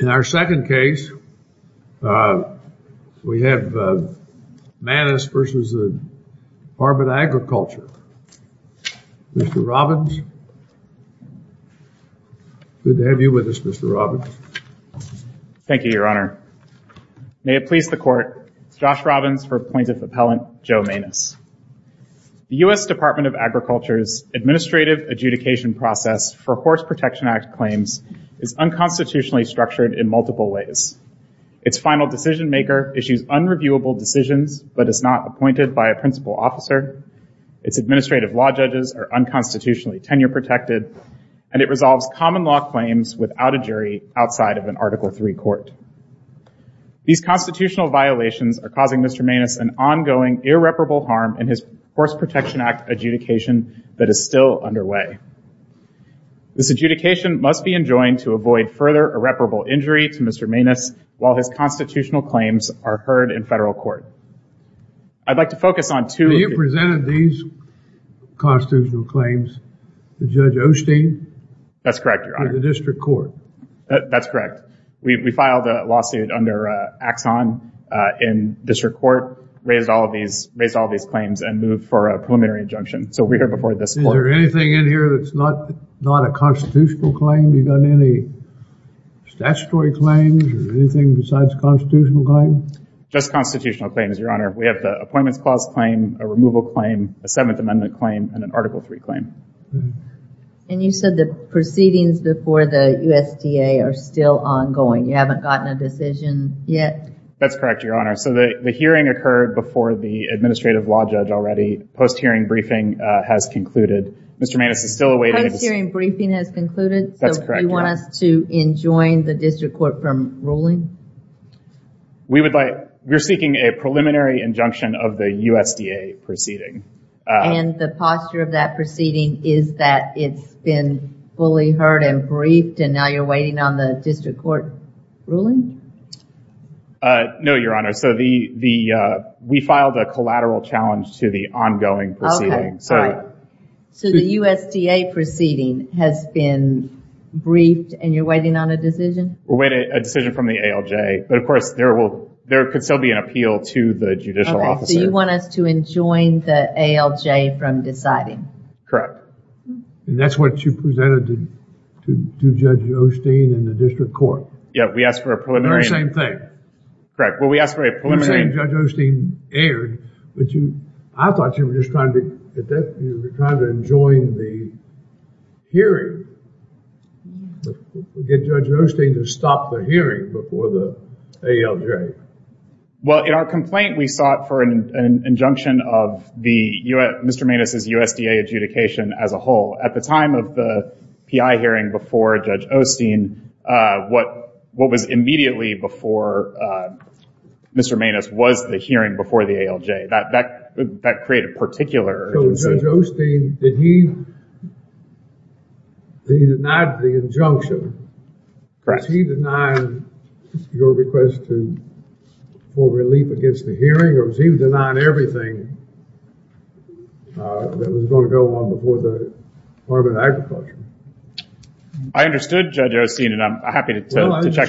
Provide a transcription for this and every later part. In our second case, we have Manis v. Department of Agriculture. Mr. Robbins, good to have you with us, Mr. Robbins. Thank you, Your Honor. May it please the Court, it's Josh Robbins for plaintiff appellant Joe Manis. The U.S. Department of Agriculture's administrative adjudication process for Horse Protection Act claims is unconstitutionally structured in multiple ways. Its final decision maker issues unreviewable decisions but is not appointed by a principal officer, its administrative law judges are unconstitutionally tenure protected, and it resolves common law claims without a jury outside of an Article III court. These constitutional violations are causing Mr. Manis an ongoing irreparable harm in his Horse Protection Act adjudication that is still underway. This adjudication must be enjoined to avoid further irreparable injury to Mr. Manis while his constitutional claims are heard in federal court. I'd like to focus on two- When you presented these constitutional claims to Judge Osteen- That's correct, Your Honor. to the district court. That's correct. We filed a lawsuit under Axon in district court, raised all of these claims and moved for a preliminary injunction. So we heard before this court- Is there anything in here that's not a constitutional claim? You got any statutory claims or anything besides constitutional claim? Just constitutional claims, Your Honor. We have the Appointments Clause claim, a removal claim, a Seventh Amendment claim, and an Article III claim. And you said the proceedings before the USDA are still ongoing. You haven't gotten a decision yet? That's correct, Your Honor. So the hearing occurred before the Administrative Law Judge already. Post-hearing briefing has concluded. Mr. Manis is still awaiting- Post-hearing briefing has concluded? That's correct, Your Honor. So you want us to enjoin the district court from ruling? We would like- We're seeking a preliminary injunction of the USDA proceeding. And the posture of that proceeding is that it's been fully heard and briefed and now you're waiting on the district court ruling? No, Your Honor. So we filed a collateral challenge to the ongoing proceeding. So the USDA proceeding has been briefed and you're waiting on a decision? We're waiting on a decision from the ALJ. But of course, there could still be an appeal to the judicial officer. So you want us to enjoin the ALJ from deciding? And that's what you presented to Judge Osteen in the district court? Yeah, we asked for a preliminary- The same thing. Correct. Well, we asked for a preliminary- You're saying Judge Osteen erred, but I thought you were just trying to enjoin the hearing. Get Judge Osteen to stop the hearing before the ALJ. Well, in our complaint, we sought for an injunction of Mr. Maness's USDA adjudication as a whole. At the time of the PI hearing before Judge Osteen, what was immediately before Mr. Maness was the hearing before the ALJ. That created particular- So Judge Osteen, did he deny the injunction? Correct. Was he denying your request for relief against the hearing? Or was he denying everything that was going to go on before the Department of Agriculture? I understood Judge Osteen, and I'm happy to check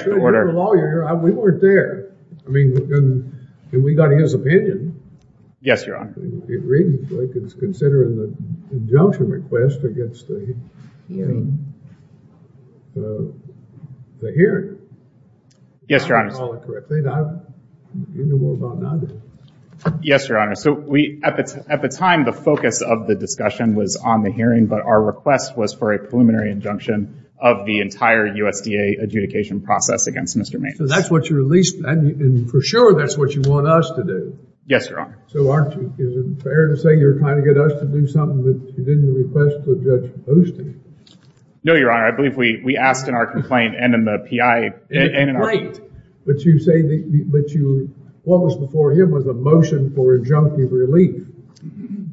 the order. Well, I understood. You're a lawyer. We weren't there. I mean, we got his opinion. Yes, Your Honor. It reads like it's considering the injunction request against the hearing. Yes, Your Honor. Yes, Your Honor. So at the time, the focus of the discussion was on the hearing, but our request was for a preliminary injunction of the entire USDA adjudication process against Mr. Maness. So that's what you released, and for sure that's what you want us to do. Yes, Your Honor. So isn't it fair to say you're trying to get us to do something that you didn't request to Judge Osteen? No, Your Honor. I believe we asked in our complaint and in the PI- Right. But you say that what was before him was a motion for injunctive relief.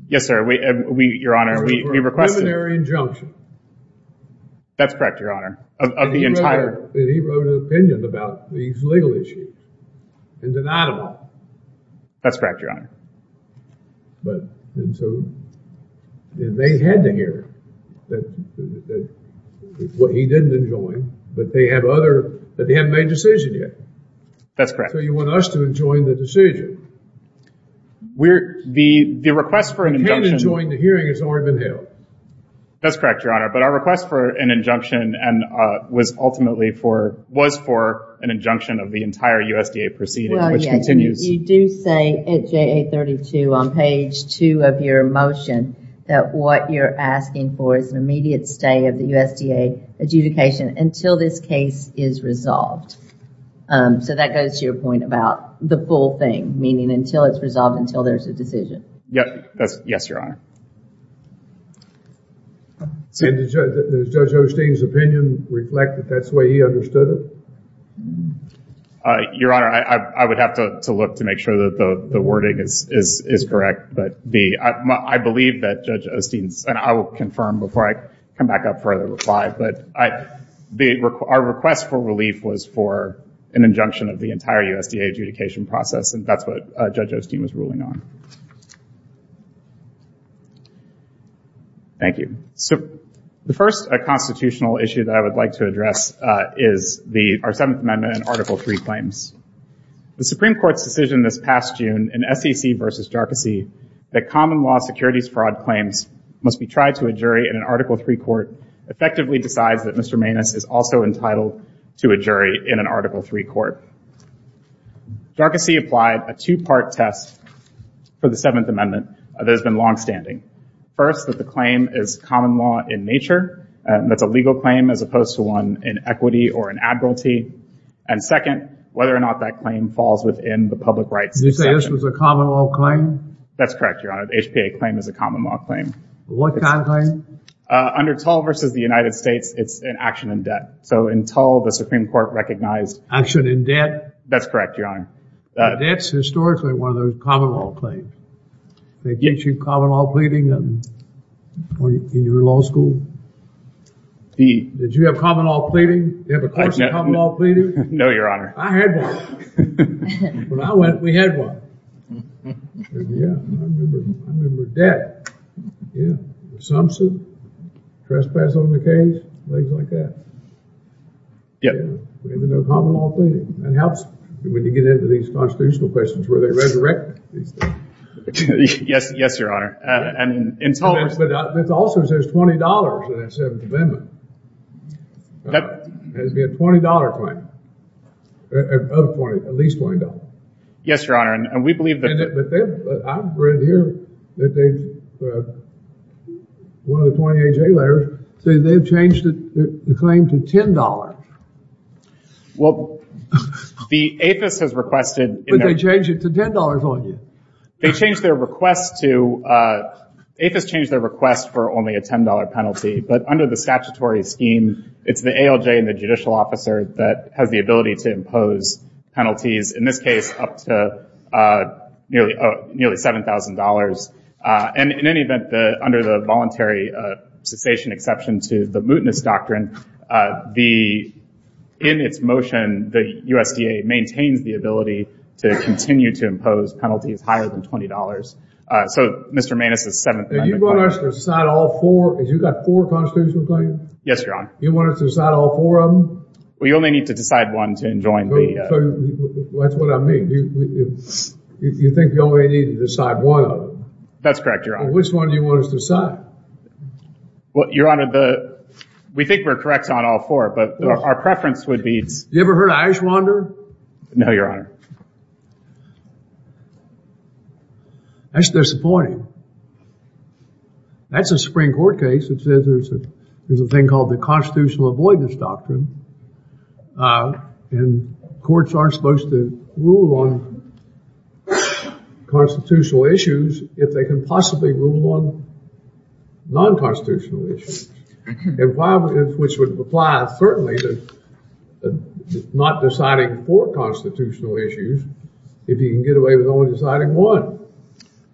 Yes, sir. Your Honor, we requested- A preliminary injunction. That's correct, Your Honor, of the entire- And he wrote an opinion about these legal issues and denied them all. That's correct, Your Honor. But, and so they had to hear that what he didn't enjoin, but they have other- that they haven't made a decision yet. That's correct. So you want us to enjoin the decision. We're- the request for an injunction- You can't enjoin the hearing. It's already been held. That's correct, Your Honor, but our request for an injunction was ultimately for- was for an injunction of the entire USDA proceeding, which continues- Well, yeah, you do say at JA32 on page two of your motion that what you're asking for is an immediate stay of the USDA adjudication until this case is resolved. So that goes to your point about the full thing, meaning until it's resolved, until there's a decision. Yes, Your Honor. And does Judge Osteen's opinion reflect that that's the way he understood it? Your Honor, I would have to look to make sure that the wording is correct. But the- I believe that Judge Osteen's- and I will confirm before I come back up for a reply, but our request for relief was for an injunction of the entire USDA adjudication process, and that's what Judge Osteen was ruling on. Thank you. The first constitutional issue that I would like to address is the- our Seventh Amendment and Article III claims. The Supreme Court's decision this past June in SEC v. Jarkissi that common law securities fraud claims must be tried to a jury in an Article III court effectively decides that Mr. Maness is also entitled to a jury in an Article III court. Jarkissi applied a two-part test for the Seventh Amendment that has been longstanding. First, that the claim is common law in nature. That's a legal claim as opposed to one in equity or in admiralty. And second, whether or not that claim falls within the public rights- Did you say this was a common law claim? That's correct, Your Honor. The HPA claim is a common law claim. What kind of claim? Under Tull v. the United States, it's an action in debt. So in Tull, the Supreme Court recognized- Action in debt? That's correct, Your Honor. Debt's historically one of those common law claims. They teach you common law pleading in your law school? Did you have common law pleading? Do you have a course in common law pleading? No, Your Honor. I had one. When I went, we had one. Yeah, I remember debt. Yeah. Assumption. Trespass on the case. Things like that. Yeah. We didn't even know common law pleading. It helps when you get into these constitutional questions where they resurrect these things. Yes, Your Honor. And in Tull- But it also says $20 in that Seventh Amendment. Yep. It has to be a $20 claim. At least $20. Yes, Your Honor. And we believe that- But I've read here that they've- One of the 20 A.J. letters says they've changed the claim to $10. Well, the APHIS has requested- But they changed it to $10 on you. They changed their request to- APHIS changed their request for only a $10 penalty. But under the statutory scheme, it's the ALJ and the judicial officer that has the ability to impose penalties. In this case, up to nearly $7,000. And in any event, under the voluntary cessation exception to the mootness doctrine, in its motion, the USDA maintains the ability to continue to impose penalties higher than $20. So, Mr. Maness' Seventh Amendment- And you want us to decide all four? Because you've got four constitutional claims? Yes, Your Honor. You want us to decide all four of them? Well, you only need to decide one to enjoin the- So, that's what I mean. You think you only need to decide one of them? That's correct, Your Honor. Which one do you want us to decide? Well, Your Honor, the- We think we're correct on all four, but our preference would be- You ever heard of Ashwander? No, Your Honor. That's disappointing. That's a Supreme Court case that says there's a thing called the constitutional avoidance doctrine. And courts aren't supposed to rule on constitutional issues if they can possibly rule on non-constitutional issues, which would apply, certainly, to not deciding four constitutional issues if you can get away with only deciding one.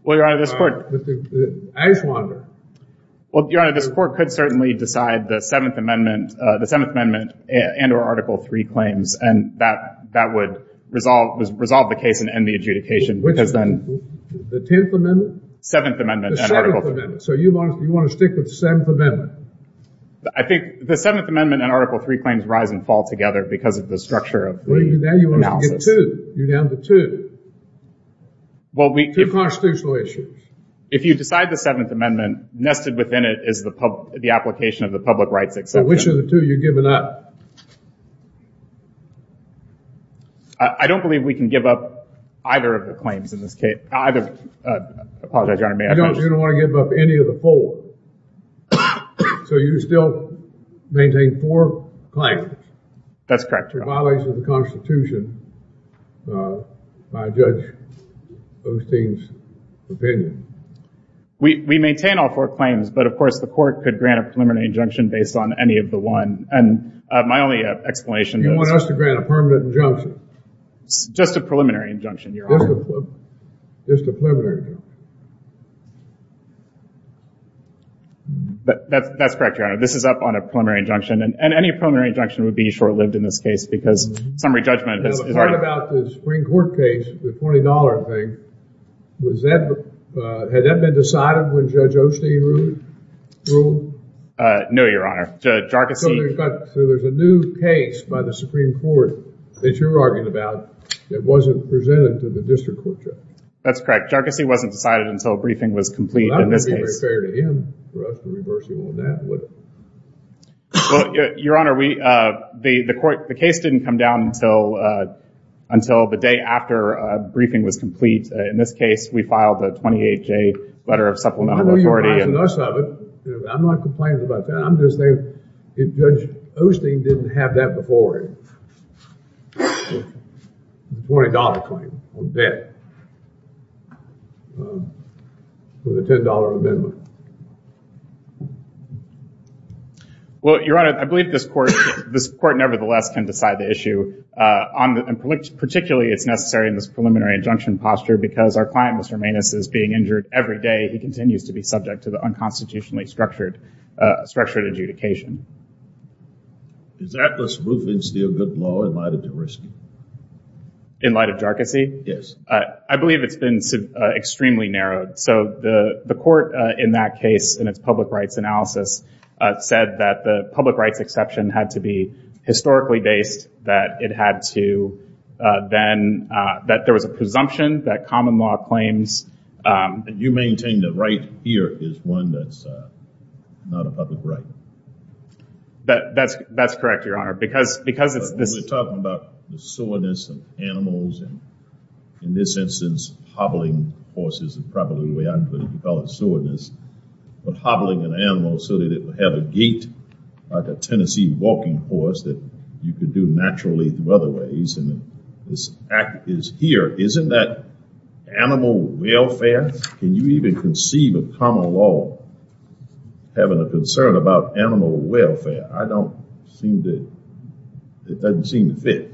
Well, Your Honor, this court- Ashwander. Well, Your Honor, this court could certainly decide the Seventh Amendment and or Article III claims, and that would resolve the case and end the adjudication because then- The Tenth Amendment? Seventh Amendment. The Seventh Amendment. So, you want to stick with the Seventh Amendment? I think the Seventh Amendment and Article III claims rise and fall together because of the structure of the analysis. You're down to two. Two constitutional issues. If you decide the Seventh Amendment, nested within it is the application of the public rights exception. So, which of the two are you giving up? I don't believe we can give up either of the claims in this case. I apologize, Your Honor, may I finish? You don't want to give up any of the four. So, you still maintain four claims? That's correct, Your Honor. If it violates the Constitution, I judge Osteen's opinion. We maintain all four claims, but, of course, the court could grant a preliminary injunction based on any of the one. And my only explanation is- You want us to grant a permanent injunction? Just a preliminary injunction, Your Honor. Just a preliminary injunction. That's correct, Your Honor. This is up on a preliminary injunction. And any preliminary injunction would be short-lived in this case because summary judgment- Now, the part about the Supreme Court case, the $20 thing, had that been decided when Judge Osteen ruled? No, Your Honor. So, there's a new case by the Supreme Court that you're arguing about that wasn't presented to the district court judge? That's correct. Well, that wouldn't be very fair to him for us to reverse you on that, would it? Well, Your Honor, the case didn't come down until the day after a briefing was complete. In this case, we filed a 28-J letter of supplemental authority. I'm not complaining about that. Judge Osteen didn't have that before him. The $20 claim on debt for the $10 amendment. Well, Your Honor, I believe this court nevertheless can decide the issue. Particularly, it's necessary in this preliminary injunction posture because our client, Mr. Maness, is being injured every day. He continues to be subject to the unconstitutionally structured adjudication. Is Atlas Roofing still good law in light of the risk? In light of jarczy? Yes. I believe it's been extremely narrowed. So, the court in that case, in its public rights analysis, said that the public rights exception had to be historically based. That there was a presumption that common law claims... And you maintain that right here is one that's not a public right? That's correct, Your Honor. Because it's... We're talking about the soreness of animals. In this instance, hobbling horses is probably the way I put it. We call it soreness. Hobbling an animal so that it would have a gait like a Tennessee walking horse that you could do naturally through other ways. And this act is here. Isn't that animal welfare? Can you even conceive of common law having a concern about animal welfare? I don't seem to... It doesn't seem to fit.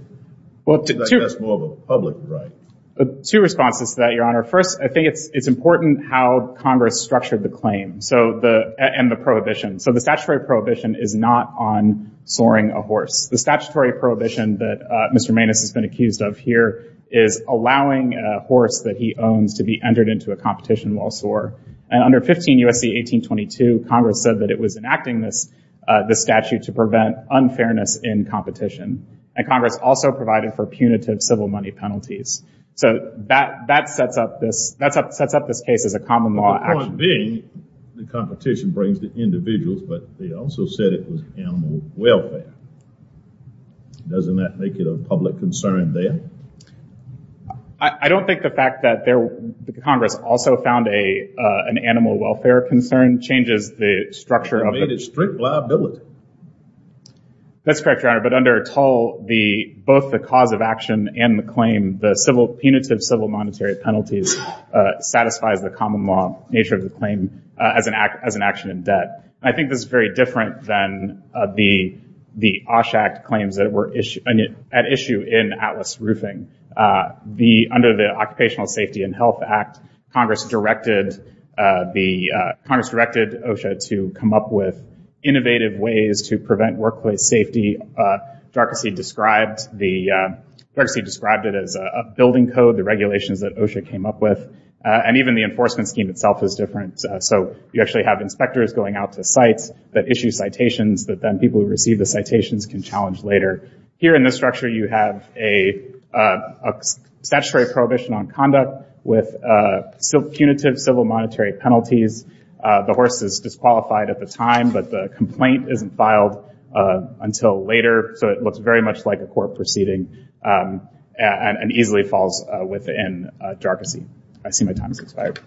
That's more of a public right. Two responses to that, Your Honor. First, I think it's important how Congress structured the claim and the prohibition. So, the statutory prohibition is not on soaring a horse. The statutory prohibition that Mr. Maness has been accused of here is allowing a horse that he owns to be entered into a competition while soar. And under 15 U.S.C. 1822, Congress said that it was enacting this statute to prevent unfairness in competition. And Congress also provided for punitive civil money penalties. So, that sets up this case as a common law action. The point being, the competition brings the individuals, but they also said it was animal welfare. Doesn't that make it a public concern there? I don't think the fact that Congress also found an animal welfare concern changes the structure of the... It made it strict liability. That's correct, Your Honor. But under Tull, both the cause of action and the claim, the punitive civil monetary penalties satisfies the common law nature of the claim as an action in debt. I think this is very different than the Osh Act claims that were at issue in Atlas Roofing. Under the Occupational Safety and Health Act, Congress directed OSHA to come up with innovative ways to prevent workplace safety. Darkasy described it as a building code, the regulations that OSHA came up with. And even the enforcement scheme itself is different. So, you actually have inspectors going out to sites that issue citations that then people who receive the citations can challenge later. Here in this structure, you have a statutory prohibition on conduct with punitive civil monetary penalties. The horse is disqualified at the time, but the complaint isn't filed until later. So, it looks very much like a court proceeding and easily falls within Darkasy. I see my time has expired.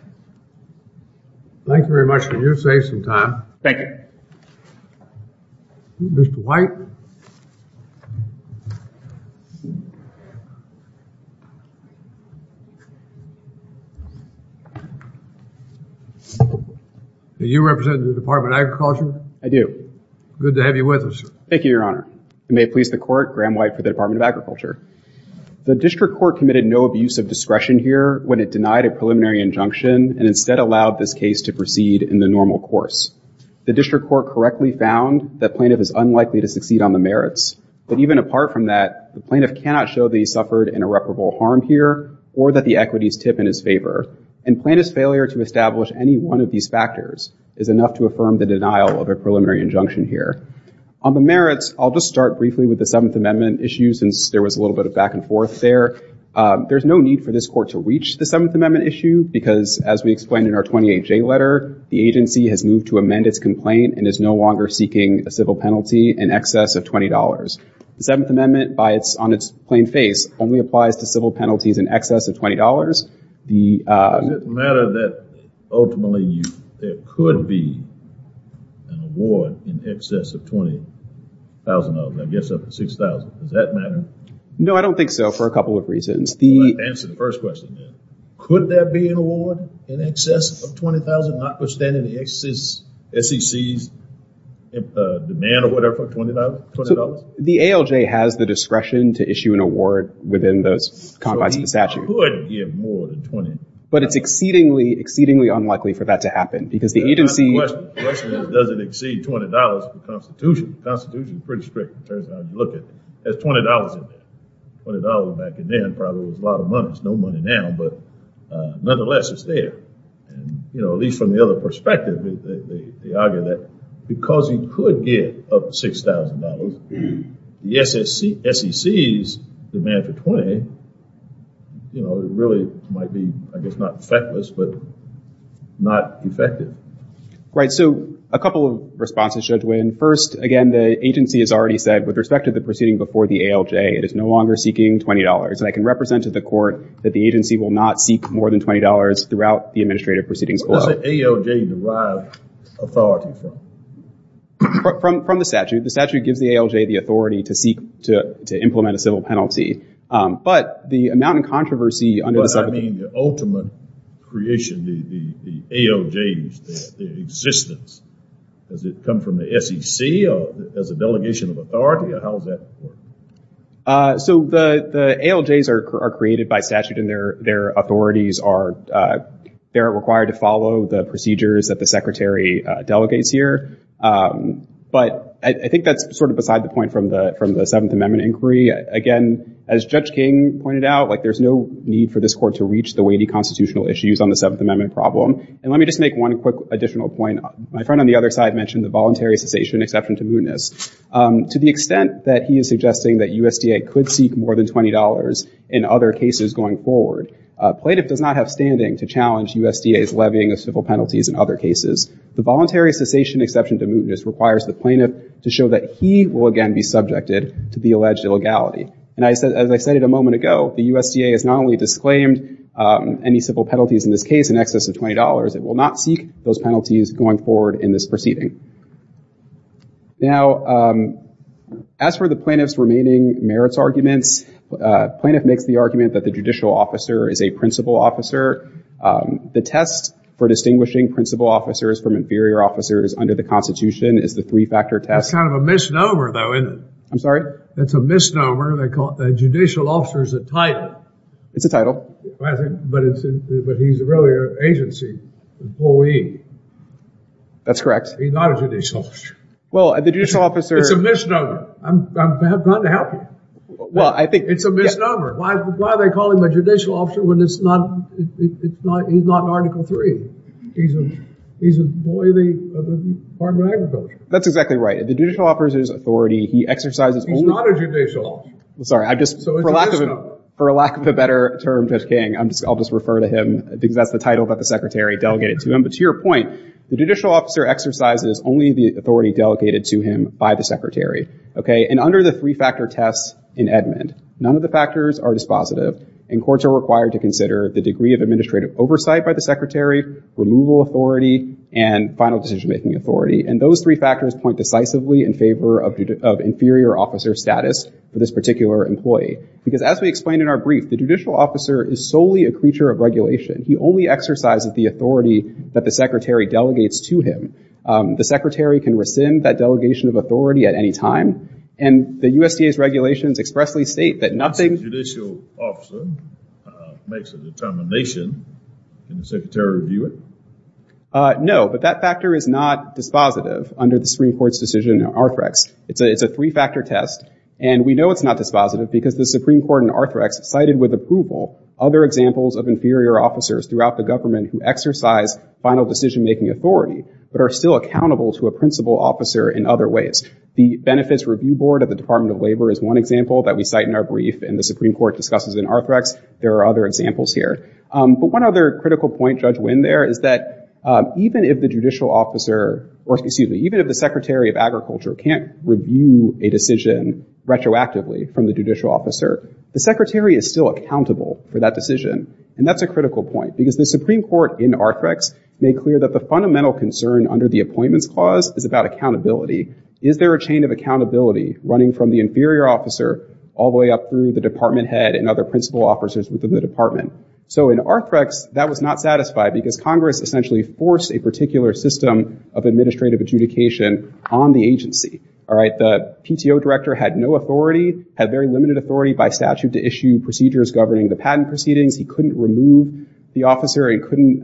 Thank you very much. Can you save some time? Thank you. Mr. White. Do you represent the Department of Agriculture? I do. Good to have you with us. Thank you, Your Honor. It may please the Court, Graham White for the Department of Agriculture. The District Court committed no abuse of discretion here when it denied a preliminary injunction and instead allowed this case to proceed in the normal course. The District Court correctly found that plaintiff is unlikely to succeed on the merits. But even apart from that, the plaintiff cannot show that he suffered an irreparable harm here or that the equities tip in his favor. And plaintiff's failure to establish any one of these factors is enough to affirm the denial of a preliminary injunction here. On the merits, I'll just start briefly with the Seventh Amendment issue since there was a little bit of back and forth there. There's no need for this Court to reach the Seventh Amendment issue because, as we explained in our 28-J letter, the agency has moved to amend its complaint and is no longer seeking a civil penalty in excess of $20. The Seventh Amendment, on its plain face, only applies to civil penalties in excess of $20. Does it matter that ultimately there could be an award in excess of $20,000? I guess up to $6,000. Does that matter? No, I don't think so for a couple of reasons. Answer the first question then. Could there be an award in excess of $20,000 notwithstanding the SEC's demand or whatever for $20? The ALJ has the discretion to issue an award within those combines of the statute. So he could give more than $20,000. But it's exceedingly, exceedingly unlikely for that to happen because the agency— The question is, does it exceed $20 for the Constitution? The Constitution is pretty strict, it turns out. You look at it, there's $20 in there. $20 back then probably was a lot of money. There's no money now, but nonetheless, it's there. At least from the other perspective, they argue that because he could get up to $6,000, the SEC's demand for $20 really might be, I guess, not feckless but not effective. Right. So a couple of responses, Judge Wynn. First, again, the agency has already said with respect to the proceeding before the ALJ, it is no longer seeking $20. And I can represent to the court that the agency will not seek more than $20 throughout the administrative proceedings below. Where does the ALJ derive authority from? From the statute. The statute gives the ALJ the authority to implement a civil penalty. But the amount of controversy under the— I mean the ultimate creation, the ALJs, the existence. Does it come from the SEC as a delegation of authority, or how is that? So the ALJs are created by statute and their authorities are required to follow the procedures that the Secretary delegates here. But I think that's sort of beside the point from the Seventh Amendment inquiry. Again, as Judge King pointed out, there's no need for this court to reach the weighty constitutional issues on the Seventh Amendment problem. And let me just make one quick additional point. My friend on the other side mentioned the voluntary cessation exception to mootness. To the extent that he is suggesting that USDA could seek more than $20 in other cases going forward, plaintiff does not have standing to challenge USDA's levying of civil penalties in other cases. The voluntary cessation exception to mootness requires the plaintiff to show that he will, again, be subjected to the alleged illegality. And as I said a moment ago, the USDA has not only disclaimed any civil penalties in this case in excess of $20, it will not seek those penalties going forward in this proceeding. Now, as for the plaintiff's remaining merits arguments, plaintiff makes the argument that the judicial officer is a principal officer. The test for distinguishing principal officers from inferior officers under the Constitution is the three-factor test. That's kind of a misnomer, though, isn't it? I'm sorry? That's a misnomer. They call the judicial officer's a title. It's a title. But he's really an agency employee. That's correct. He's not a judicial officer. Well, the judicial officer— It's a misnomer. I'm trying to help you. Well, I think— It's a misnomer. Why do they call him a judicial officer when he's not an Article III? He's an employee of the Department of Agriculture. That's exactly right. The judicial officer's authority, he exercises only— He's not a judicial officer. I'm sorry. I just— So it's a misnomer. For lack of a better term, Judge King, I'll just refer to him because that's the title that the Secretary delegated to him. But to your point, the judicial officer exercises only the authority delegated to him by the Secretary. Okay? And under the three-factor test in Edmund, none of the factors are dispositive, and courts are required to consider the degree of administrative oversight by the Secretary, removal authority, and final decision-making authority. And those three factors point decisively in favor of inferior officer status for this particular employee. Because as we explained in our brief, the judicial officer is solely a creature of regulation. He only exercises the authority that the Secretary delegates to him. The Secretary can rescind that delegation of authority at any time, and the USDA's regulations expressly state that nothing— If a judicial officer makes a determination, can the Secretary review it? No, but that factor is not dispositive under the Supreme Court's decision in Arthrex. It's a three-factor test, and we know it's not dispositive because the Supreme Court in Arthrex cited with approval other examples of inferior officers throughout the government who exercise final decision-making authority, but are still accountable to a principal officer in other ways. The Benefits Review Board of the Department of Labor is one example that we cite in our brief, and the Supreme Court discusses in Arthrex. There are other examples here. But one other critical point, Judge Wynn, there is that even if the judicial officer— or excuse me, even if the Secretary of Agriculture can't review a decision retroactively from the judicial officer, the Secretary is still accountable for that decision. And that's a critical point, because the Supreme Court in Arthrex made clear that the fundamental concern under the Appointments Clause is about accountability. Is there a chain of accountability running from the inferior officer all the way up through the department head and other principal officers within the department? So in Arthrex, that was not satisfied because Congress essentially forced a particular system of administrative adjudication on the agency. The PTO director had no authority, had very limited authority by statute to issue procedures governing the patent proceedings. He couldn't remove the officer and couldn't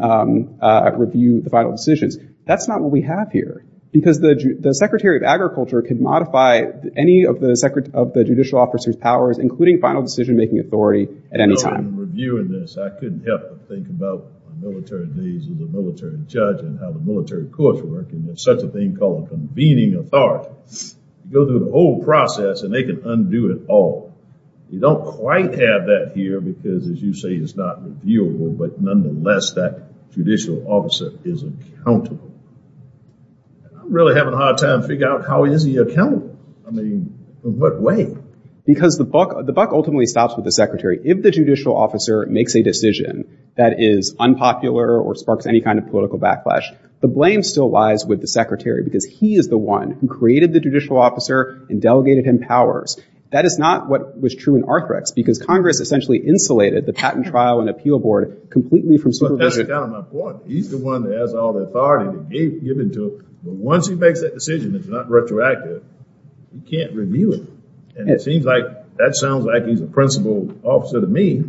review the final decisions. That's not what we have here, because the Secretary of Agriculture could modify any of the judicial officer's powers, including final decision-making authority, at any time. In reviewing this, I couldn't help but think about my military days as a military judge and how the military courts work, and there's such a thing called a convening authority. You go through the whole process, and they can undo it all. You don't quite have that here because, as you say, it's not reviewable, but nonetheless, that judicial officer is accountable. I'm really having a hard time figuring out how is he accountable? I mean, in what way? Because the buck ultimately stops with the secretary. If the judicial officer makes a decision that is unpopular or sparks any kind of political backlash, the blame still lies with the secretary because he is the one who created the judicial officer and delegated him powers. That is not what was true in Arthrex because Congress essentially insulated the patent trial and appeal board completely from supervision. But that's kind of my point. He's the one that has all the authority to give it to him, but once he makes that decision that's not retroactive, he can't review it. And it seems like that sounds like he's a principled officer to me.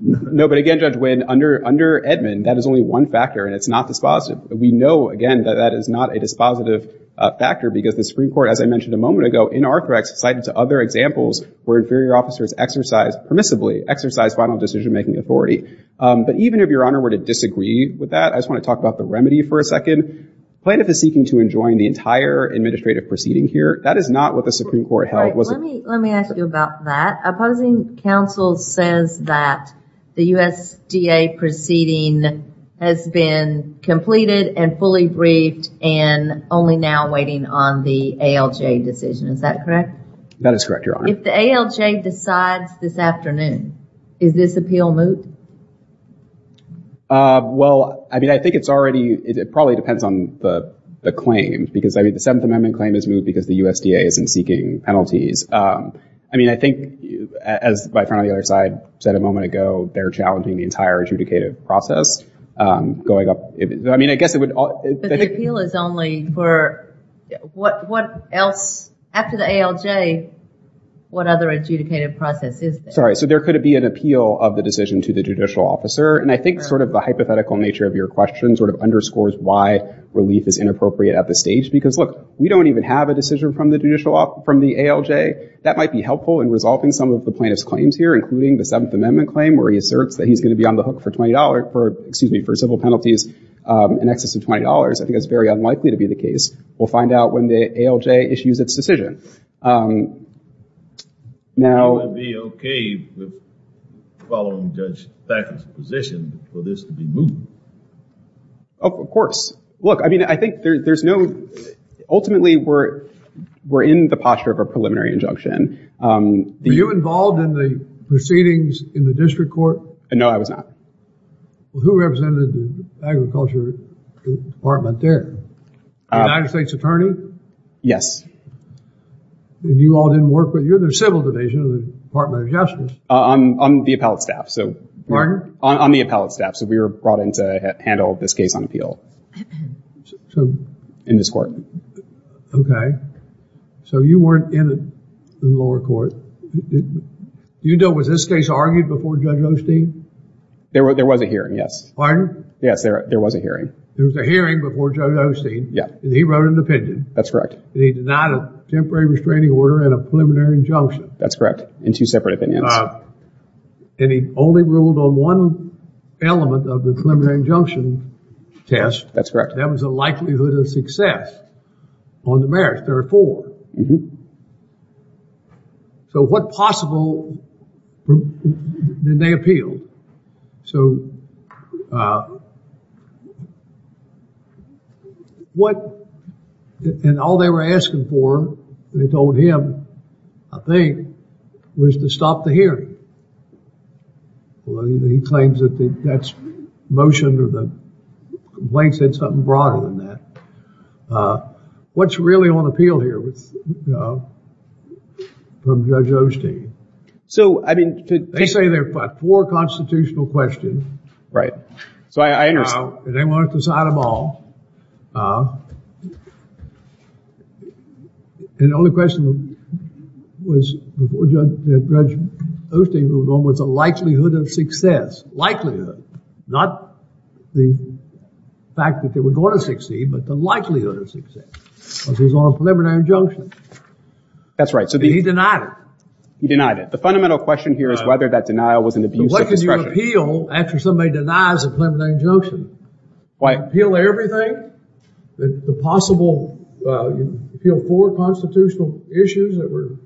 No, but again, Judge Wynn, under Edmund, that is only one factor, and it's not dispositive. We know, again, that that is not a dispositive factor because the Supreme Court, as I mentioned a moment ago, in Arthrex cited other examples where inferior officers exercised permissibly, exercised final decision-making authority. But even if Your Honor were to disagree with that, I just want to talk about the remedy for a second. Plaintiff is seeking to enjoin the entire administrative proceeding here. That is not what the Supreme Court held. Let me ask you about that. Opposing counsel says that the USDA proceeding has been completed and fully briefed and only now waiting on the ALJ decision. Is that correct? That is correct, Your Honor. If the ALJ decides this afternoon, is this appeal moot? Well, I mean, I think it's already, it probably depends on the claim because, I mean, the Seventh Amendment claim is moot because the USDA isn't seeking penalties. I mean, I think, as my friend on the other side said a moment ago, they're challenging the entire adjudicative process going up. I mean, I guess it would... But the appeal is only for, what else, after the ALJ, what other adjudicative process is there? Sorry, so there could be an appeal of the decision to the judicial officer, and I think sort of the hypothetical nature of your question sort of underscores why relief is inappropriate at this stage because, look, we don't even have a decision from the ALJ. That might be helpful in resolving some of the plaintiff's claims here, including the Seventh Amendment claim where he asserts that he's going to be on the hook for $20, excuse me, for civil penalties in excess of $20. I think that's very unlikely to be the case. We'll find out when the ALJ issues its decision. Now... Would you be okay with following Judge Packard's position for this to be moved? Of course. Look, I mean, I think there's no... Ultimately, we're in the posture of a preliminary injunction. Were you involved in the proceedings in the district court? No, I was not. Who represented the Agriculture Department there? The United States Attorney? Yes. And you all didn't work with either the Civil Division or the Department of Justice? On the appellate staff. Pardon? On the appellate staff. So we were brought in to handle this case on appeal in this court. Okay. So you weren't in the lower court. Do you know, was this case argued before Judge Osteen? There was a hearing, yes. Pardon? Yes, there was a hearing. There was a hearing before Judge Osteen. Yeah. And he wrote an opinion. That's correct. And he denied a temporary restraining order and a preliminary injunction. That's correct. In two separate opinions. And he only ruled on one element of the preliminary injunction test. That's correct. That was a likelihood of success on the merits. There are four. So what possible did they appeal? So what, and all they were asking for, they told him, I think, was to stop the hearing. He claims that that's motion or the complaint said something broader than that. What's really on appeal here from Judge Osteen? So, I mean. They say there are four constitutional questions. Right. So I understand. And they wanted to decide them all. And the only question was, before Judge Osteen ruled on them, was the likelihood of success. Likelihood. Not the fact that they were going to succeed, but the likelihood of success. Because it was on a preliminary injunction. That's right. He denied it. He denied it. The fundamental question here is whether that denial was an abuse of discretion. But what did you appeal after somebody denies a preliminary injunction? Why? You appeal everything? The possible, you appeal four constitutional issues that were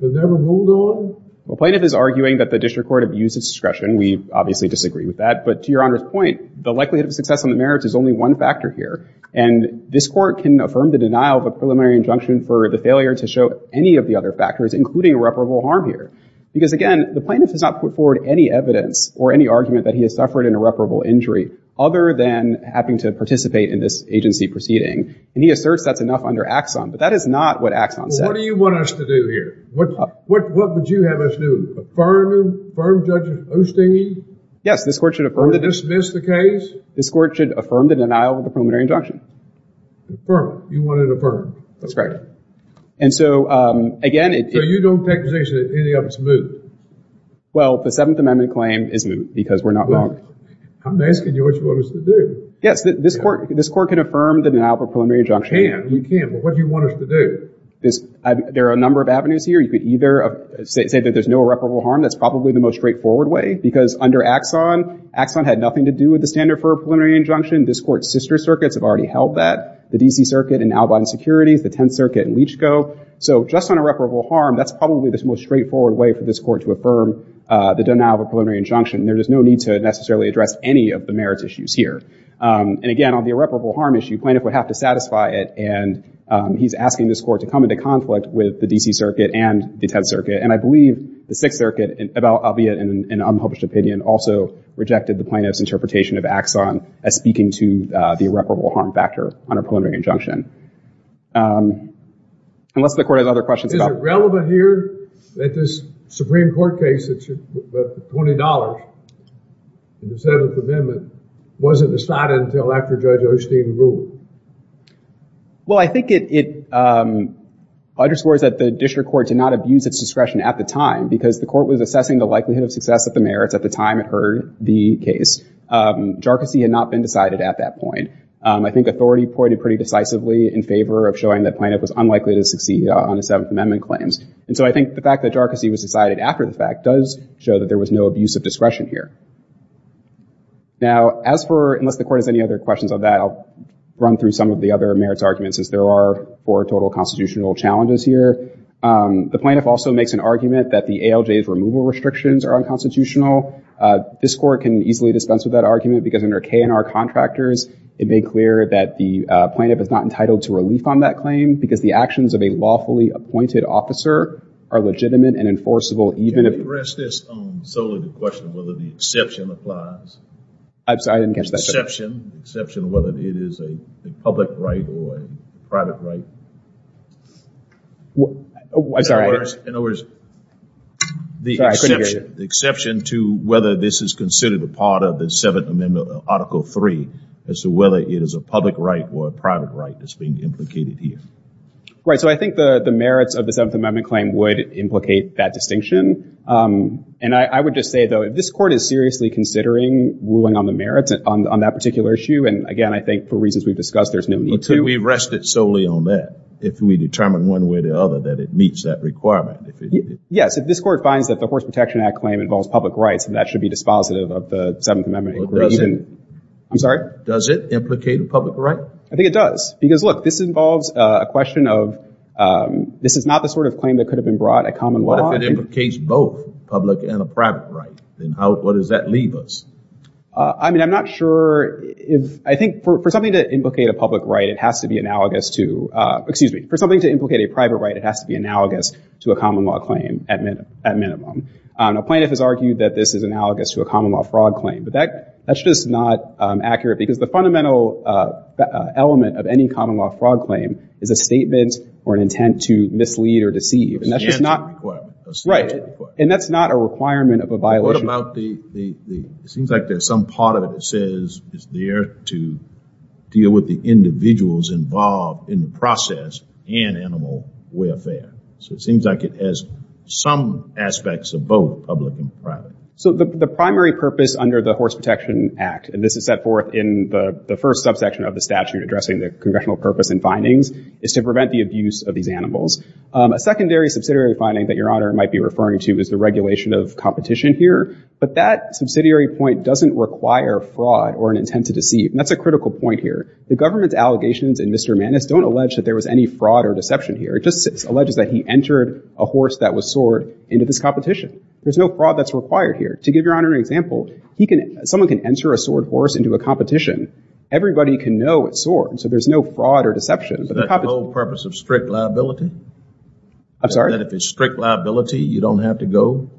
never ruled on? Well, plaintiff is arguing that the district court abused its discretion. We obviously disagree with that. But to Your Honor's point, the likelihood of success on the merits is only one factor here. And this court can affirm the denial of a preliminary injunction for the failure to show any of the other factors, including irreparable harm here. Because, again, the plaintiff has not put forward any evidence or any argument that he has suffered an irreparable injury, other than having to participate in this agency proceeding. And he asserts that's enough under Axon. But that is not what Axon said. Well, what do you want us to do here? What would you have us do? Affirm Judge Osteen? Yes, this court should affirm the denial. Or dismiss the case? This court should affirm the denial of the preliminary injunction. Affirm. You want it affirmed. That's correct. And so, again, it So you don't take the position that any of it's moot? Well, the Seventh Amendment claim is moot, because we're not wrong. I'm asking you what you want us to do. Yes, this court can affirm the denial of a preliminary injunction. We can. We can. But what do you want us to do? There are a number of avenues here. You could either say that there's no irreparable harm. That's probably the most straightforward way. Because under Axon, Axon had nothing to do with the standard for a preliminary injunction. This court's sister circuits have already held that. The D.C. Circuit in Albion Securities, the Tenth Circuit in Leach Co. So just on irreparable harm, that's probably the most straightforward way for this court to affirm the denial of a preliminary injunction. There is no need to necessarily address any of the merits issues here. And, again, on the irreparable harm issue, plaintiff would have to satisfy it. And he's asking this court to come into conflict with the D.C. Circuit and the Tenth Circuit. And I believe the Sixth Circuit, albeit in an unpublished opinion, also rejected the plaintiff's interpretation of Axon as speaking to the irreparable harm factor on a preliminary injunction. Unless the court has other questions about it. Is it relevant here that this Supreme Court case, the $20 in the Seventh Amendment, wasn't decided until after Judge Osteen ruled? Well, I think it underscores that the district court did not abuse its discretion at the time because the court was assessing the likelihood of success of the merits at the time it heard the case. Jarczy had not been decided at that point. I think authority pointed pretty decisively in favor of showing that plaintiff was unlikely to succeed on the Seventh Amendment claims. And so I think the fact that Jarczy was decided after the fact does show that there was no abuse of discretion here. Now, as for unless the court has any other questions on that, I'll run through some of the other merits arguments as there are for total constitutional challenges here. The plaintiff also makes an argument that the ALJ's removal restrictions are unconstitutional. This court can easily dispense with that argument because under K&R Contractors, it made clear that the plaintiff is not entitled to relief on that claim because the actions of a lawfully appointed officer are legitimate and enforceable even if- Can I address this solely to question whether the exception applies? I didn't catch that. The exception, whether it is a public right or a private right. I'm sorry. In other words, the exception to whether this is considered a part of the Seventh Amendment Article 3 as to whether it is a public right or a private right that's being implicated here. Right, so I think the merits of the Seventh Amendment claim would implicate that distinction. And I would just say, though, if this court is seriously considering ruling on the merits on that particular issue, and, again, I think for reasons we've discussed, there's no need to- But can we rest it solely on that if we determine one way or the other that it meets that requirement? Yes, if this court finds that the Horse Protection Act claim involves public rights, then that should be dispositive of the Seventh Amendment. Well, does it? I'm sorry? Does it implicate a public right? I think it does because, look, this involves a question of- this is not the sort of claim that could have been brought at common law. What if it implicates both a public and a private right? Then what does that leave us? I mean, I'm not sure if- I think for something to implicate a public right, it has to be analogous to- excuse me, for something to implicate a private right, it has to be analogous to a common law claim at minimum. A plaintiff has argued that this is analogous to a common law fraud claim, but that's just not accurate because the fundamental element of any common law fraud claim is a statement or an intent to mislead or deceive. And that's just not- A stance or a requirement. Right. And that's not a requirement of a violation. What about the- it seems like there's some part of it that says it's there to deal with the individuals involved in the process and animal welfare. So it seems like it has some aspects of both public and private. So the primary purpose under the Horse Protection Act, and this is set forth in the first subsection of the statute addressing the congressional purpose and findings, is to prevent the abuse of these animals. A secondary subsidiary finding that Your Honor might be referring to is the regulation of competition here, but that subsidiary point doesn't require fraud or an intent to deceive. And that's a critical point here. The government's allegations in Mr. Maness don't allege that there was any fraud or deception here. It just alleges that he entered a horse that was soared into this competition. There's no fraud that's required here. To give Your Honor an example, he can- someone can enter a soared horse into a competition. Everybody can know it's soared, so there's no fraud or deception. Is that the whole purpose of strict liability? I'm sorry? That if it's strict liability, you don't have to go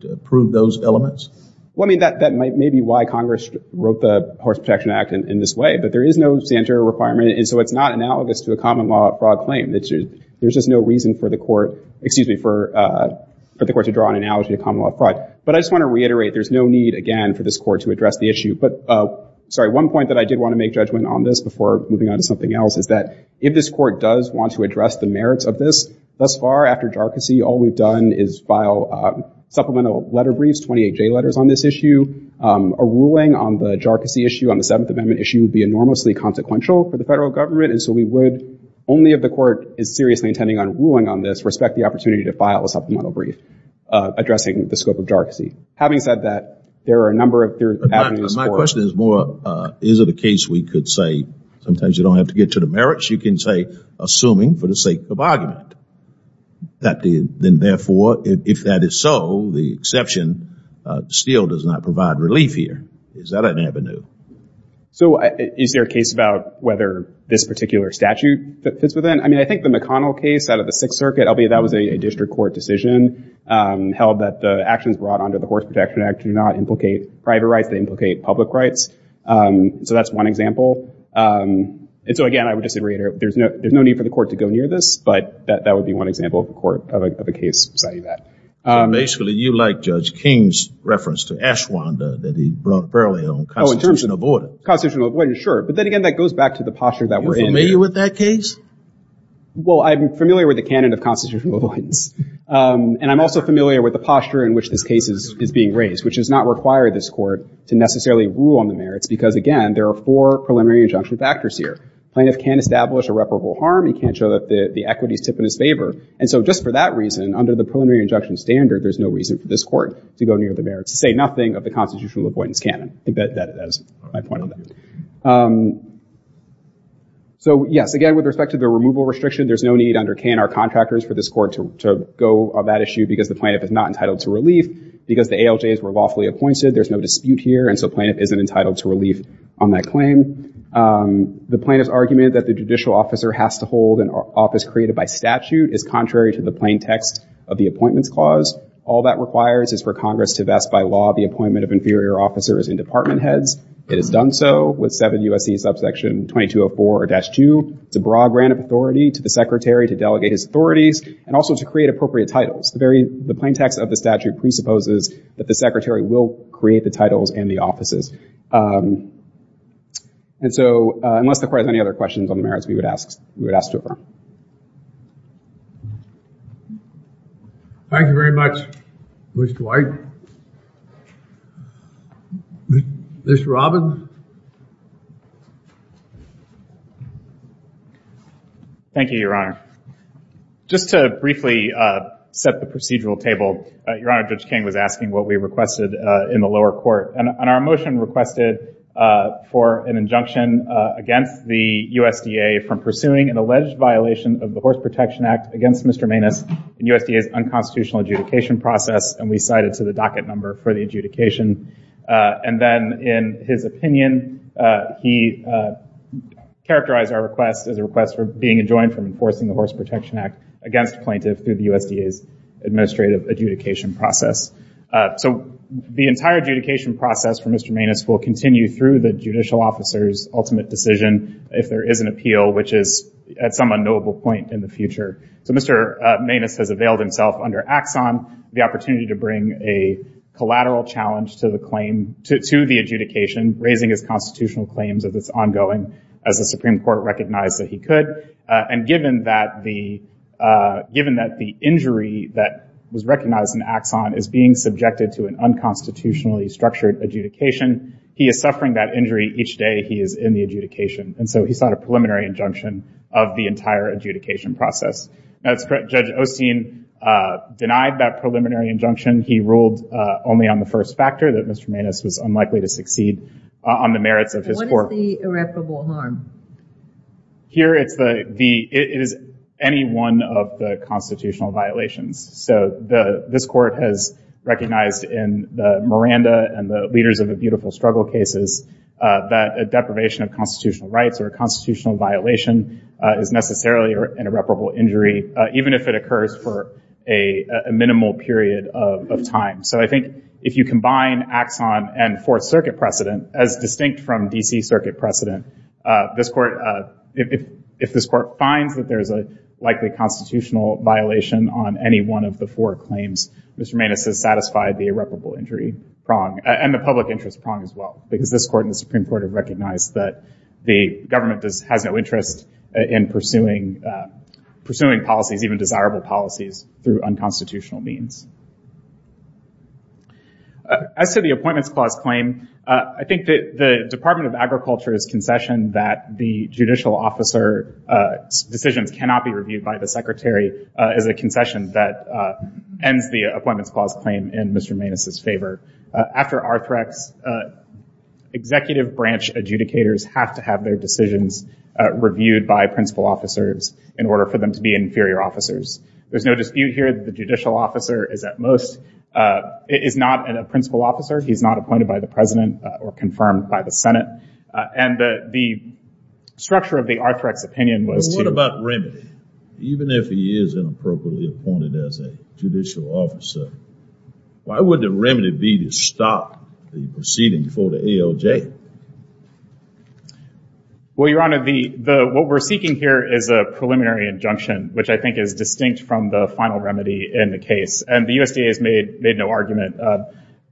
to prove those elements? Well, I mean, that may be why Congress wrote the Horse Protection Act in this way. But there is no standard requirement, and so it's not analogous to a common law fraud claim. There's just no reason for the court to draw an analogy to common law fraud. But I just want to reiterate there's no need, again, for this court to address the issue. Sorry, one point that I did want to make judgment on this before moving on to something else is that if this court does want to address the merits of this, thus far after jarcossy, all we've done is file supplemental letter briefs, 28J letters on this issue. A ruling on the jarcossy issue, on the Seventh Amendment issue, would be enormously consequential for the federal government. And so we would, only if the court is seriously intending on ruling on this, respect the opportunity to file a supplemental brief addressing the scope of jarcossy. Having said that, there are a number of avenues for it. My question is more, is it a case we could say, sometimes you don't have to get to the merits, you can say assuming for the sake of argument, then therefore, if that is so, the exception still does not provide relief here. Is that an avenue? So is there a case about whether this particular statute fits within? I mean, I think the McConnell case out of the Sixth Circuit, that was a district court decision, held that the actions brought under the Horse Protection Act do not implicate private rights, they implicate public rights. So that's one example. And so, again, I would just reiterate, there's no need for the court to go near this, but that would be one example of a case citing that. Basically, you like Judge King's reference to Ashwanda that he brought up earlier on constitutional void. Constitutional void, sure. But then again, that goes back to the posture that we're in here. Are you familiar with that case? Well, I'm familiar with the canon of constitutional avoidance. And I'm also familiar with the posture in which this case is being raised, which does not require this court to necessarily rule on the merits, because, again, there are four preliminary injunction factors here. Plaintiff can't establish irreparable harm. He can't show that the equity is tip in his favor. And so just for that reason, under the preliminary injunction standard, there's no reason for this court to go near the merits, to say nothing of the constitutional avoidance canon. I think that's my point on that. So, yes, again, with respect to the removal restriction, there's no need under K&R contractors for this court to go on that issue, because the plaintiff is not entitled to relief. Because the ALJs were lawfully appointed, there's no dispute here, and so plaintiff isn't entitled to relief on that claim. The plaintiff's argument that the judicial officer has to hold an office created by statute is contrary to the plain text of the Appointments Clause. All that requires is for Congress to vest by law the appointment of inferior officers and department heads. It is done so with 7 U.S.C. subsection 2204-2. It's a broad grant of authority to the secretary to delegate his authorities and also to create appropriate titles. The plain text of the statute presupposes that the secretary will create the titles and the offices. And so unless the court has any other questions on the merits, we would ask to affirm. Thank you very much, Mr. White. Mr. Robin. Thank you, Your Honor. Just to briefly set the procedural table, Your Honor, Judge King was asking what we requested in the lower court. And our motion requested for an injunction against the USDA from pursuing an alleged violation of the Horse Protection Act against Mr. Maness in USDA's unconstitutional adjudication process, and we cited to the docket number for the adjudication. And then in his opinion, he characterized our request as a request for being enjoined from enforcing the Horse Protection Act against a plaintiff through the USDA's administrative adjudication process. So the entire adjudication process for Mr. Maness will continue through the judicial officer's ultimate decision if there is an appeal, which is at some unknowable point in the future. So Mr. Maness has availed himself under Axon the opportunity to bring a collateral challenge to the claim, to the adjudication, raising his constitutional claims of this ongoing as the Supreme Court recognized that he could. And given that the injury that was recognized in Axon is being subjected to an unconstitutionally structured adjudication, he is suffering that injury each day he is in the adjudication. And so he sought a preliminary injunction of the entire adjudication process. That's correct. Judge Osteen denied that preliminary injunction. He ruled only on the first factor, that Mr. Maness was unlikely to succeed on the merits of his court. What is the irreparable harm? Here it is any one of the constitutional violations. So this court has recognized in the Miranda and the Leaders of a Beautiful Struggle cases that a deprivation of constitutional rights or a constitutional violation is necessarily an irreparable injury, even if it occurs for a minimal period of time. So I think if you combine Axon and Fourth Circuit precedent, as distinct from D.C. Circuit precedent, if this court finds that there is a likely constitutional violation on any one of the four claims, Mr. Maness has satisfied the irreparable injury prong and the public interest prong as well. Because this court and the Supreme Court have recognized that the government has no interest in pursuing policies, even desirable policies, through unconstitutional means. As to the Appointments Clause claim, I think that the Department of Agriculture's concession that the judicial officer's decisions cannot be reviewed by the secretary is a concession that ends the Appointments Clause claim in Mr. Maness's favor. After Arthrex, executive branch adjudicators have to have their decisions reviewed by principal officers in order for them to be inferior officers. There's no dispute here that the judicial officer is at most, is not a principal officer. He's not appointed by the president or confirmed by the Senate. And the structure of the Arthrex opinion was to... Well, what about remedy? Even if he is inappropriately appointed as a judicial officer, why would the remedy be to stop the proceeding before the ALJ? Well, Your Honor, what we're seeking here is a preliminary injunction, which I think is distinct from the final remedy in the case. And the USDA has made no argument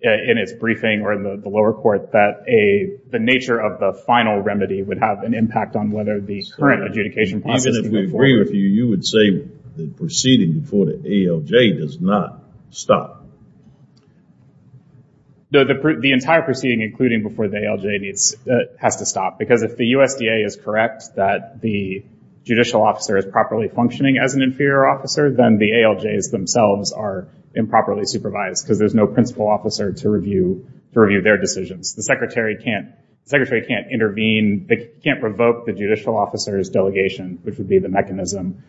in its briefing or in the lower court that the nature of the final remedy would have an impact on whether the current adjudication process would go forward. Even if we agree with you, you would say the proceeding before the ALJ does not stop. No, the entire proceeding, including before the ALJ, has to stop. Because if the USDA is correct that the judicial officer is properly functioning as an inferior officer, then the ALJs themselves are improperly supervised because there's no principal officer to review their decisions. The secretary can't intervene. They can't revoke the judicial officer's delegation, which would be the mechanism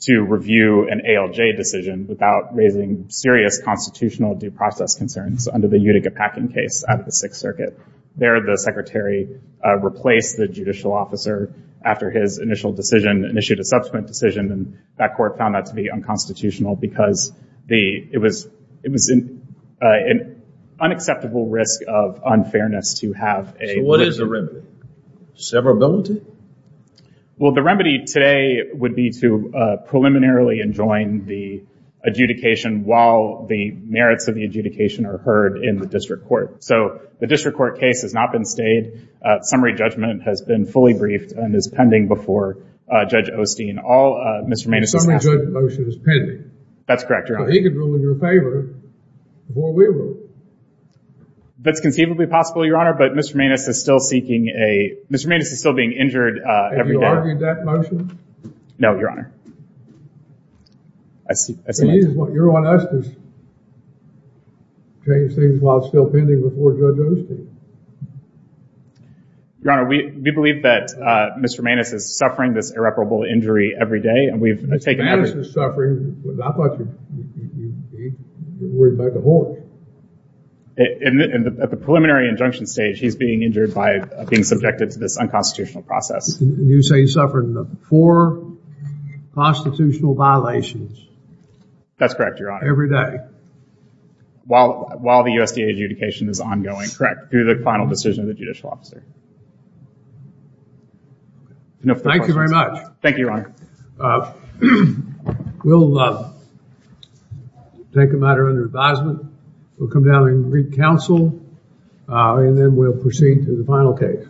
to review an ALJ decision without raising serious constitutional due process concerns under the Utica-Packin case at the Sixth Circuit. There, the secretary replaced the judicial officer after his initial decision and issued a subsequent decision. And that court found that to be unconstitutional because it was an unacceptable risk of unfairness to have a... Severability? Well, the remedy today would be to preliminarily enjoin the adjudication while the merits of the adjudication are heard in the district court. So the district court case has not been stayed. Summary judgment has been fully briefed and is pending before Judge Osteen. The summary judgment motion is pending. That's correct, Your Honor. So he can rule in your favor before we rule. That's conceivably possible, Your Honor, but Mr. Maness is still seeking a... Mr. Maness is still being injured every day. Have you argued that motion? No, Your Honor. You're on us to change things while it's still pending before Judge Osteen. Your Honor, we believe that Mr. Maness is suffering this irreparable injury every day. Mr. Maness is suffering? I thought you were worried about the horse. At the preliminary injunction stage, he's being injured by being subjected to this unconstitutional process. You say he's suffering four constitutional violations. That's correct, Your Honor. Every day. While the USDA adjudication is ongoing. Correct. Through the final decision of the judicial officer. Thank you very much. Thank you, Your Honor. We'll take a matter under advisement. We'll come down and read counsel, and then we'll proceed to the final case.